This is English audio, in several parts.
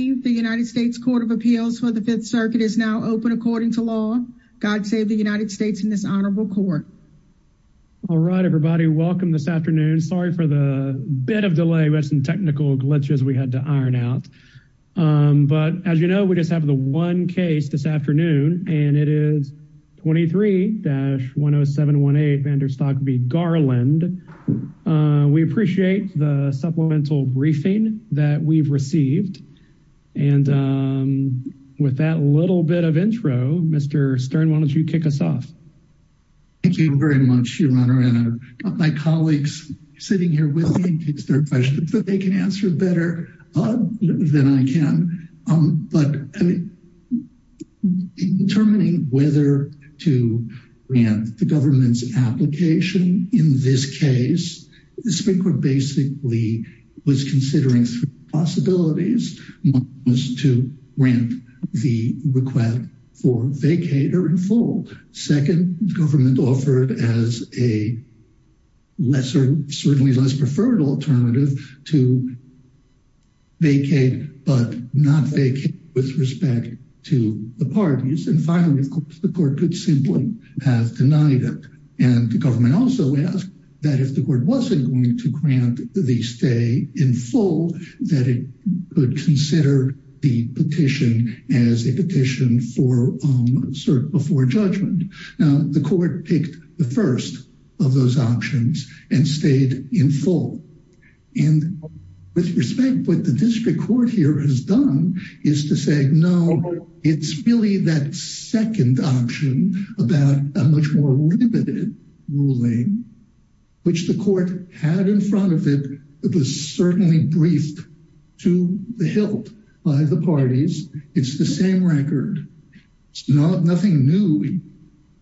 The United States Court of Appeals for the Fifth Circuit is now open according to law. God save the United States in this honorable court. All right, everybody. Welcome this afternoon. Sorry for the bit of delay. We had some technical glitches we had to iron out. But as you know, we just have the one case this afternoon, and it is 23-10718, Garland. We appreciate the supplemental briefing that we've received. And with that little bit of intro, Mr. Stern, why don't you kick us off? Thank you very much, Your Honor. And I've got my colleagues sitting here with me in case there are questions that they can answer better than I can. But determining whether to grant the application in this case, the Supreme Court basically was considering three possibilities. One was to grant the request for vacate or enfold. Second, the government offered as a lesser, certainly less preferred alternative, to vacate but not vacate with respect to the parties. And finally, of course, the court could simply have denied it. And the government also asked that if the court wasn't going to grant the stay in full, that it could consider the petition as a petition for cert before judgment. Now, the court picked the first of those options and stayed in full. And with respect, what the district court here has done is to say, no, it's really that second option about a much more limited ruling, which the court had in front of it. It was certainly briefed to the hilt by the parties. It's the same record. It's nothing new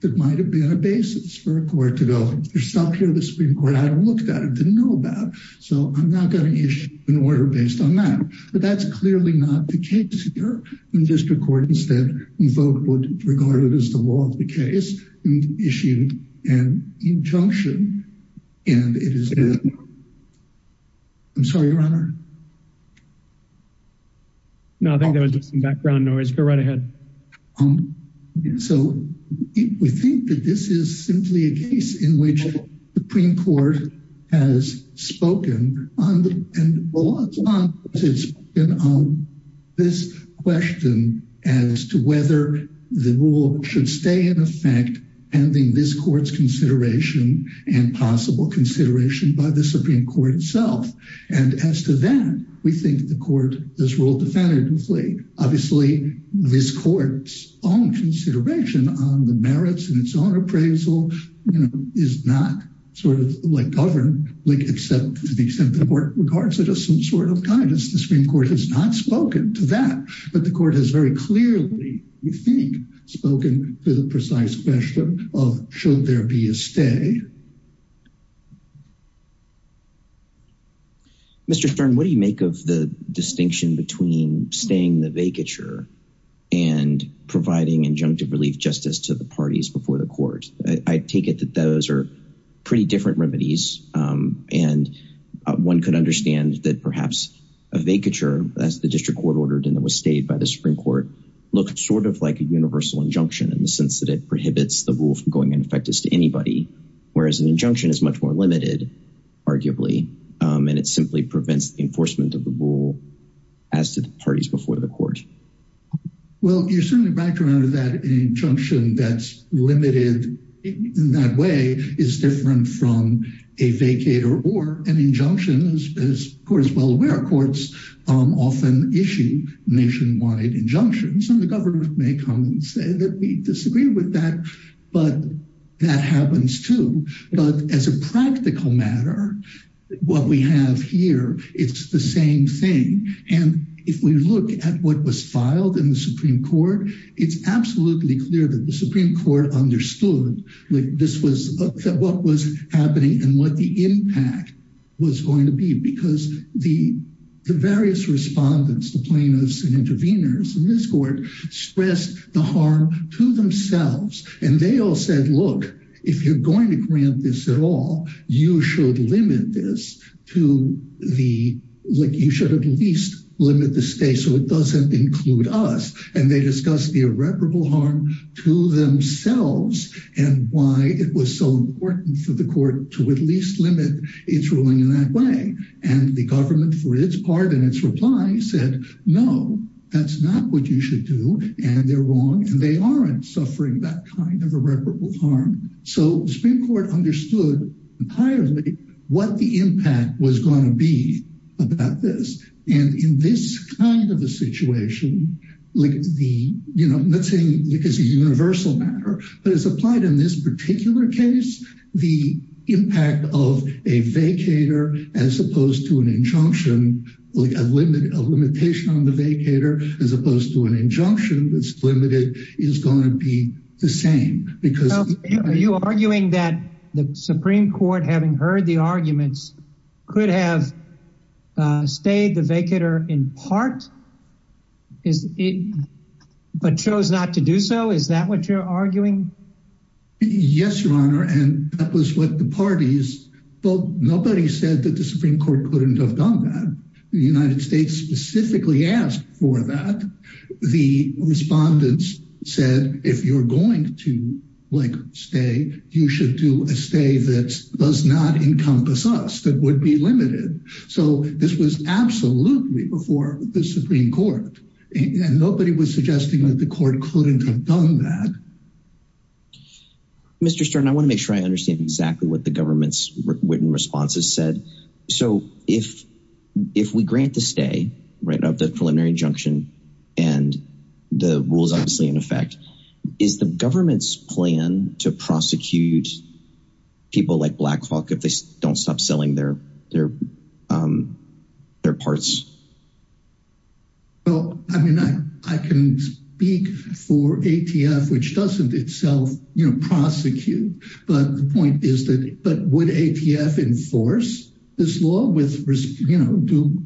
that might have been a basis for a court to go, there's something here the Supreme Court hadn't looked at it, didn't know about. So I'm not going to issue an order based on that. But that's clearly not the case here. And district court instead invoked what's regarded as the law of the case and issued an injunction. And it is that... I'm sorry, your honor. No, I think there was just some background noise. Go right ahead. Um, so we think that this is simply a case in which the Supreme Court has spoken on this question as to whether the rule should stay in effect, ending this court's consideration and possible consideration by the Supreme Court itself. And as to that, we think the court has ruled definitively. Obviously, this court's own consideration on the merits and its own appraisal is not sort of like governed except to the extent that the court regards it as some sort of guidance. The Supreme Court has not spoken to that. But the court has very clearly, we think, spoken to the precise question of should there be a stay? Mr. Stern, what do you make of the distinction between staying the vacature and providing injunctive relief justice to the parties before the court? I take it that those are pretty different remedies. And one could understand that perhaps a vacature, as the district court ordered and that was stayed by the Supreme Court, looks sort of like a universal injunction in the sense that it prohibits the rule from going in effect as to anybody. But I'm not sure that that's an injunction. Whereas an injunction is much more limited, arguably, and it simply prevents the enforcement of the rule as to the parties before the court. Well, you're certainly right to remember that an injunction that's limited in that way is different from a vacate or an injunction, as the court is well aware. Courts often issue nationwide injunctions, and the as a practical matter, what we have here, it's the same thing. And if we look at what was filed in the Supreme Court, it's absolutely clear that the Supreme Court understood what was happening and what the impact was going to be. Because the various respondents, the plaintiffs and interveners in this court, stressed the harm to themselves. And they all said, look, if you're going to grant this at all, you should limit this to the, like, you should at least limit the state so it doesn't include us. And they discussed the irreparable harm to themselves, and why it was so important for the court to at least limit its ruling in that way. And the government for its part in its reply said, no, that's not what you should do. And they're wrong. And they aren't suffering that kind of irreparable harm. So the Supreme Court understood entirely what the impact was going to be about this. And in this kind of a situation, like the, you know, I'm not saying because it's a universal matter, but it's applied in this particular case, the impact of a vacater as opposed to an injunction, like a limit, a limitation on the vacater, as opposed to an the same, because... Are you arguing that the Supreme Court, having heard the arguments, could have stayed the vacater in part, but chose not to do so? Is that what you're arguing? Yes, Your Honor. And that was what the parties, well, nobody said that the Supreme Court couldn't have done that. The United States specifically asked for that. The respondents said, if you're going to, like, stay, you should do a stay that does not encompass us, that would be limited. So this was absolutely before the Supreme Court. And nobody was suggesting that the court couldn't have done that. Mr. Stern, I want to make sure I if we grant the stay, right, of the preliminary injunction, and the rules obviously in effect, is the government's plan to prosecute people like Blackhawk if they don't stop selling their parts? Well, I mean, I can speak for ATF, which doesn't itself, you know, prosecute. But the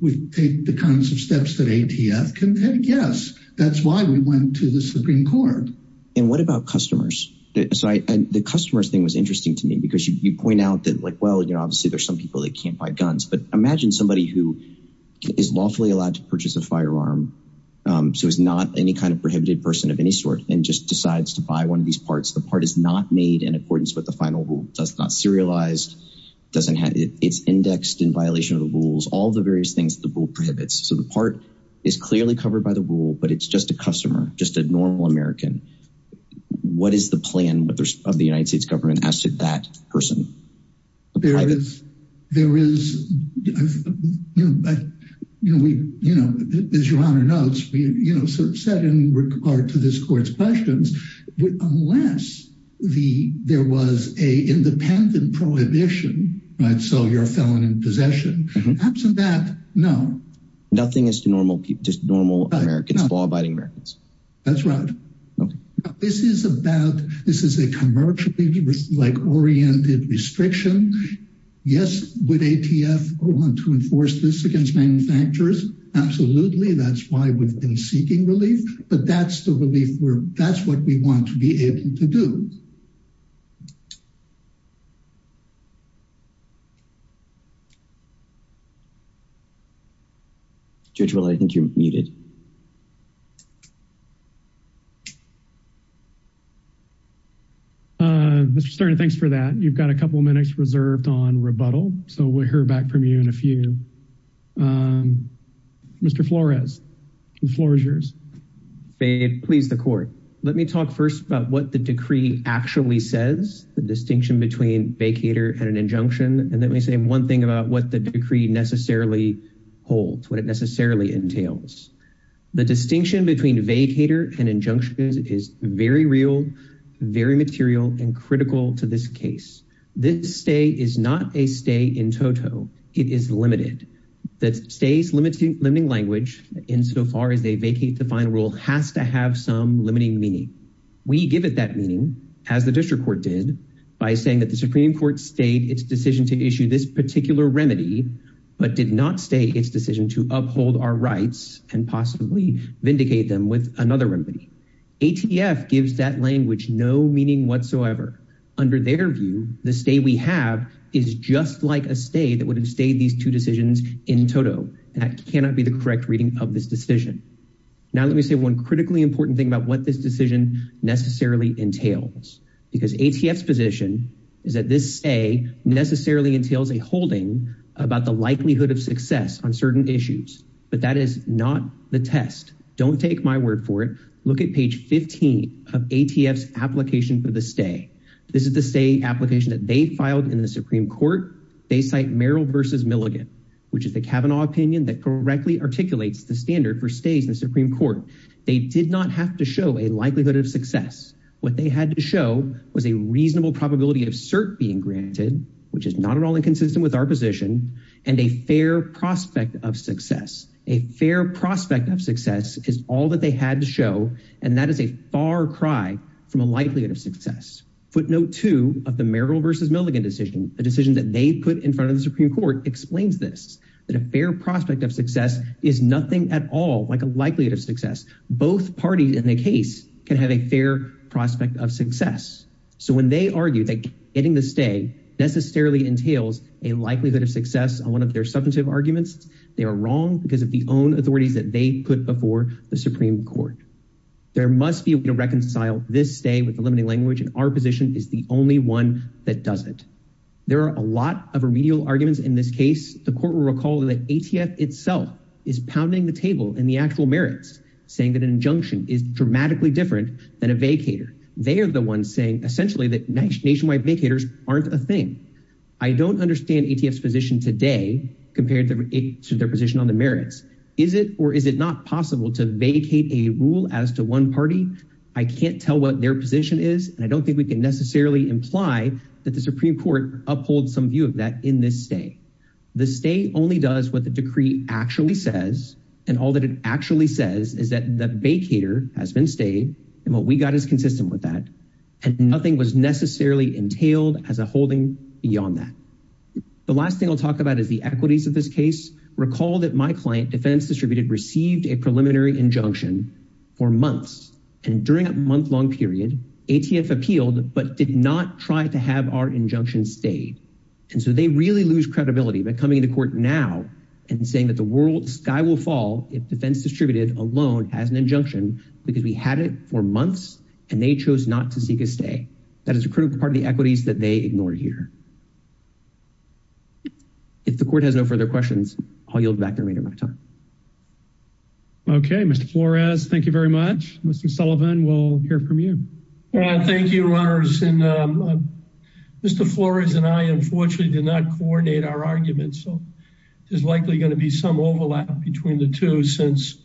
we take the kinds of steps that ATF can, yes, that's why we went to the Supreme Court. And what about customers? The customers thing was interesting to me, because you point out that, like, well, you know, obviously, there's some people that can't buy guns. But imagine somebody who is lawfully allowed to purchase a firearm. So it's not any kind of prohibited person of any sort and just decides to buy one of these parts. The part is not made in accordance with the final rule. That's not serialized. It's indexed in violation of the rules, all the various things the rule prohibits. So the part is clearly covered by the rule, but it's just a customer, just a normal American. What is the plan of the United States government as to that person? There is, you know, as your Honor notes, we, you know, sort of set in regard to this court's with unless the there was a independent prohibition, right, so you're a felon in possession. Absent that, no. Nothing as to normal people, just normal Americans, law-abiding Americans. That's right. This is about, this is a commercially, like, oriented restriction. Yes, would ATF want to enforce this against manufacturers? Absolutely. That's why we've been seeking relief, but that's the relief we're, that's what we want to be able to do. Judge Will, I think you're muted. Mr. Stern, thanks for that. You've got a couple minutes reserved on rebuttal, so we'll hear back from you in a few. Mr. Flores, the floor is yours. Please, the court. Let me talk first about what the decree actually says, the distinction between vacator and an injunction, and let me say one thing about what the decree necessarily holds, what it necessarily entails. The distinction between vacator and injunction is very real, very material, and critical to this case. This stay is not a stay in toto, it is limited. That stay's limiting language, insofar as they vacate the final rule, has to have some limiting meaning. We give it that meaning, as the district court did, by saying that the Supreme Court stayed its decision to issue this particular remedy, but did not stay decision to uphold our rights and possibly vindicate them with another remedy. ATF gives that language no meaning whatsoever. Under their view, the stay we have is just like a stay that would have stayed these two decisions in toto, and that cannot be the correct reading of this decision. Now let me say one critically important thing about what this decision necessarily entails, because ATF's position is that this stay necessarily entails a holding about the issues, but that is not the test. Don't take my word for it. Look at page 15 of ATF's application for the stay. This is the stay application that they filed in the Supreme Court. They cite Merrill v. Milligan, which is the Kavanaugh opinion that correctly articulates the standard for stays in the Supreme Court. They did not have to show a likelihood of success. What they had to show was a reasonable probability of cert being granted, which is not at all inconsistent with our position, and a fair prospect of success. A fair prospect of success is all that they had to show, and that is a far cry from a likelihood of success. Footnote two of the Merrill v. Milligan decision, a decision that they put in front of the Supreme Court, explains this, that a fair prospect of success is nothing at all like a likelihood of success. Both parties in the case can have a fair prospect of success. So when they argue that getting the stay necessarily entails a likelihood of success on one of their substantive arguments, they are wrong because of the own authorities that they put before the Supreme Court. There must be a way to reconcile this stay with the limiting language, and our position is the only one that doesn't. There are a lot of remedial arguments in this case. The court will recall that ATF itself is pounding the table in the actual merits, saying that an injunction is dramatically different than a vacator. They are the ones saying essentially that nationwide vacators aren't a thing. I don't understand ATF's position today compared to their position on the merits. Is it or is it not possible to vacate a rule as to one party? I can't tell what their position is, and I don't think we can necessarily imply that the Supreme Court upholds some view of that in this stay. The stay only does what the decree actually says, and all that it actually says is that the vacator has been stayed, and what we got is necessarily entailed as a holding beyond that. The last thing I'll talk about is the equities of this case. Recall that my client, Defense Distributed, received a preliminary injunction for months, and during a month-long period, ATF appealed but did not try to have our injunction stayed, and so they really lose credibility by coming to court now and saying that the world sky will fall if Defense Distributed alone has an injunction because we had it for months and they that is a critical part of the equities that they ignored here. If the court has no further questions, I'll yield back the remainder of my time. Okay, Mr. Flores, thank you very much. Mr. Sullivan, we'll hear from you. Thank you, Your Honors, and Mr. Flores and I unfortunately did not coordinate our argument, so there's likely going to be some overlap between the two since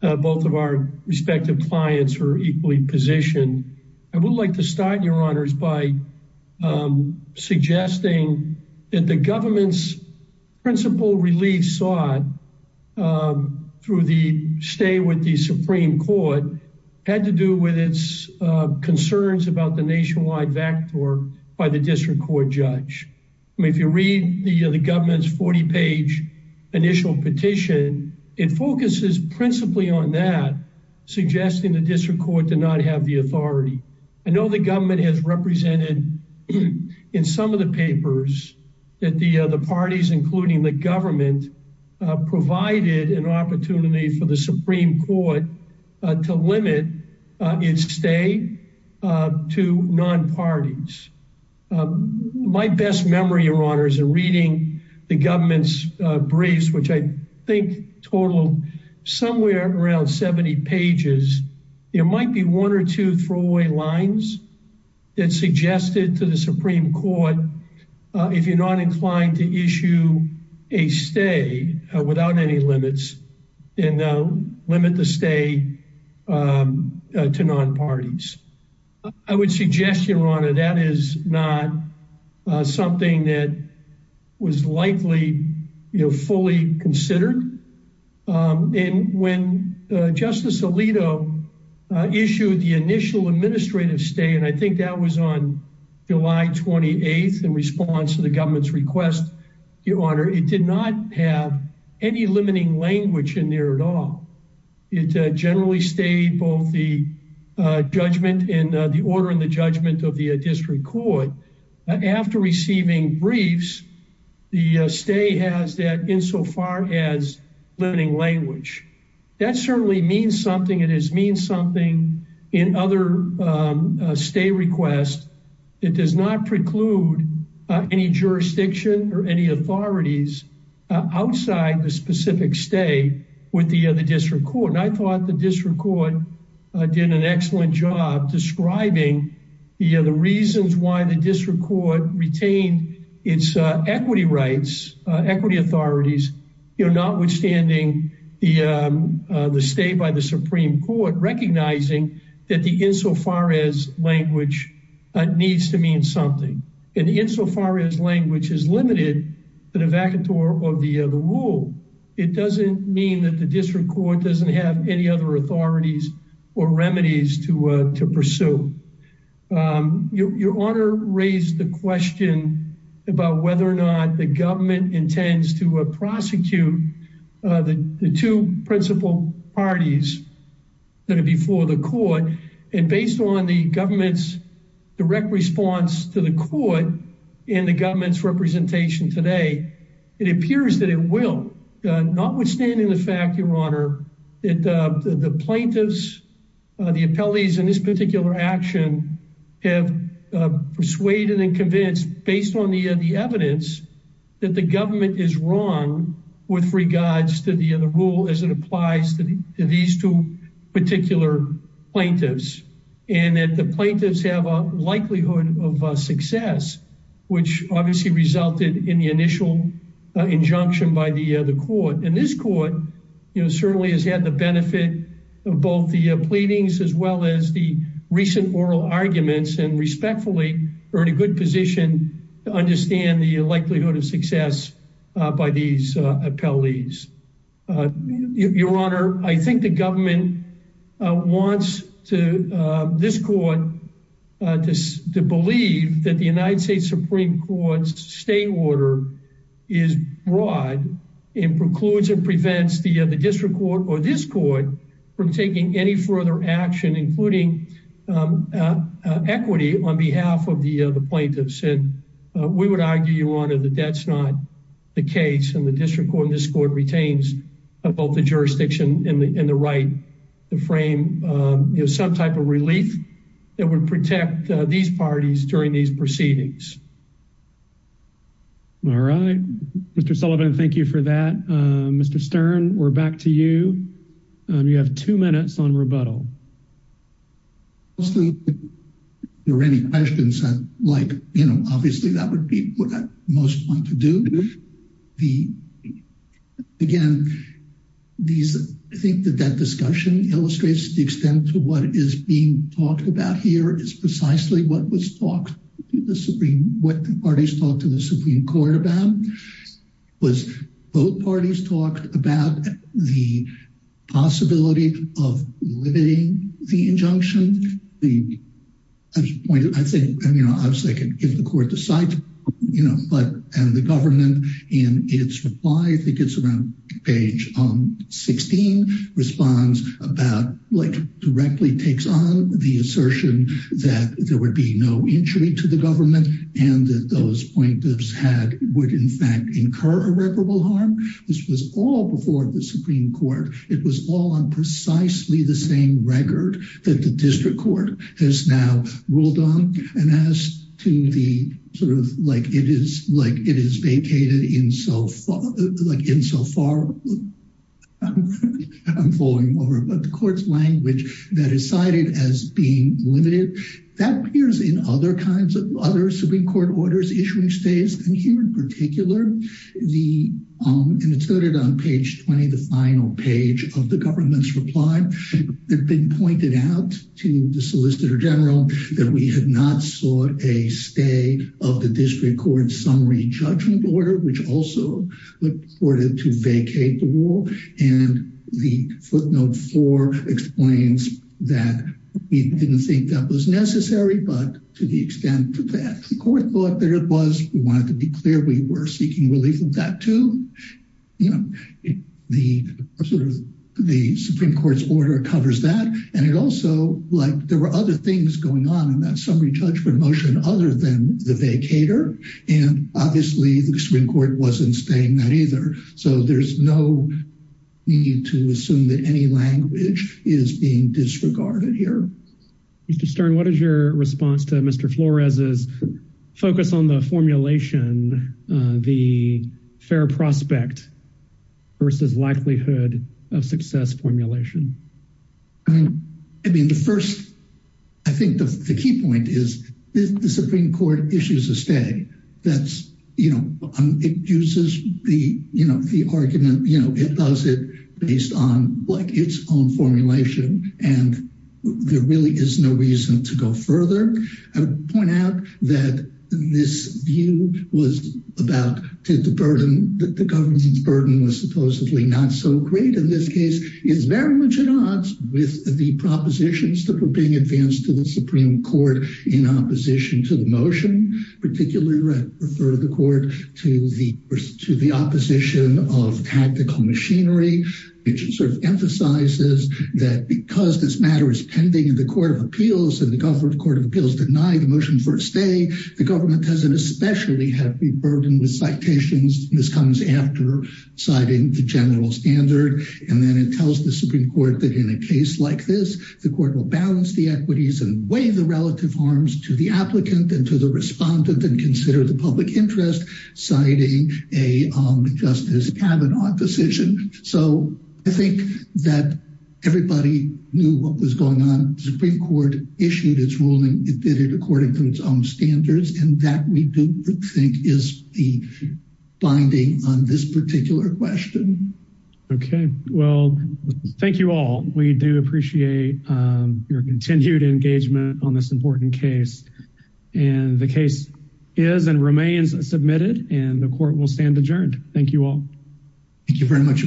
both of our respective clients are equally positioned. I would like to start, Your Honors, by suggesting that the government's principle relief sought through the stay with the Supreme Court had to do with its concerns about the nationwide vector by the district court judge. If you read the government's 40-page initial petition, it focuses principally on that, suggesting the district court did not have the authority. I know the government has represented in some of the papers that the parties, including the government, provided an opportunity for the Supreme Court to limit its stay to non-parties. My best memory, Your Honors, in reading the government's briefs, which I think total somewhere around 70 pages, there might be one or two throwaway lines that suggested to the Supreme Court if you're not inclined to issue a stay without any limits and limit the stay to non-parties. I would suggest, Your Honor, that is not something that was likely, you know, fully considered. And when Justice Alito issued the initial administrative stay, and I think that was on July 28th in response to the government's request, Your Honor, it did not have any limiting language in there at all. It generally stayed both the judgment and the order and the judgment of the district court. After receiving briefs, the stay has that insofar as limiting language. That certainly means something. It has meant something in other stay requests. It does not preclude any jurisdiction or any authorities outside the specific stay with the district court. And I thought the district court did an excellent job describing the reasons why the district court retained its equity rights, equity authorities, notwithstanding the stay by the And insofar as language is limited to the vacateur of the rule, it doesn't mean that the district court doesn't have any other authorities or remedies to pursue. Your Honor raised the question about whether or not the government intends to prosecute the two principal parties that are before the court. And based on the government's direct response to the court and the government's representation today, it appears that it will, notwithstanding the fact, Your Honor, that the plaintiffs, the appellees in this particular action have persuaded and convinced based on the evidence that the government is wrong with regards to the rule as it applies to these two particular plaintiffs, and that the plaintiffs have a likelihood of success, which obviously resulted in the initial injunction by the court. And this court, you know, certainly has had the benefit of both the pleadings as well as the recent oral arguments and respectfully are in a good position to understand the likelihood of success by these appellees. Your Honor, I think the government wants this court to believe that the United States Supreme Court's state order is broad and precludes or prevents the district court or this court from taking any further action, including equity on behalf of the plaintiffs. And we would retain both the jurisdiction and the right to frame some type of relief that would protect these parties during these proceedings. All right, Mr. Sullivan, thank you for that. Mr. Stern, we're back to you. You have two minutes on rebuttal. If there are any questions, like, you know, obviously that would be what I most want to do. Again, I think that that discussion illustrates the extent to what is being talked about here is precisely what the parties talked to the Supreme Court about. Both parties talked about the possibility of limiting the injunction. The point, I think, you know, obviously I could give the court the site, you know, but and the government in its reply, I think it's around page 16, responds about like directly takes on the assertion that there would be no injury to the government and that those plaintiffs had would in fact incur irreparable harm. This was all before the Supreme Court. It was all on precisely the same record that the district court has now ruled on and as to the sort of like it is vacated in so far. I'm falling over, but the court's language that is cited as being limited, that appears in other kinds of other Supreme Court orders issuing stays, and here in particular, the, and it's noted on page 20, the final page of the government's reply. They've been pointed out to the solicitor general that we had not sought a stay of the district court summary judgment order, which also reported to vacate the rule, and the footnote 4 explains that we didn't think that was necessary, but to the extent that the court thought that it was, we wanted to be clear we were seeking relief of that too. You know, the sort of the Supreme Court's order covers that, and it also like there were other things going on in that summary judgment motion other than the vacator, and obviously the Supreme Court wasn't saying that either, so there's no need to assume that any language is being disregarded here. Mr. Stern, what is your response to Mr. Flores's focus on the formulation, the fair prospect versus likelihood of success formulation? I mean, the first, I think the key point is the Supreme Court issues a stay that's, you know, it uses the, you know, the argument, you know, it does it based on like its own formulation, and there really is no reason to go further. I would point out that this view was about to the burden, the government's burden was supposedly not so great in this case. It's very much at odds with the propositions that were being advanced to the Supreme Court in opposition to the motion, particularly refer the court to the opposition of tactical machinery, which sort of emphasizes that because this matter is pending in the court of appeals and the government court of appeals denied the motion for a stay, the government has an especially heavy burden with citations. This comes after citing the general standard, and then it tells the Supreme Court that in a case like this, the court will balance the equities and weigh the relative harms to the applicant and to the public interest, citing a Justice Kavanaugh decision. So I think that everybody knew what was going on. The Supreme Court issued its ruling, it did it according to its own standards, and that we do think is the binding on this particular question. Okay, well, thank you all. We do and the court will stand adjourned. Thank you all. Thank you very much.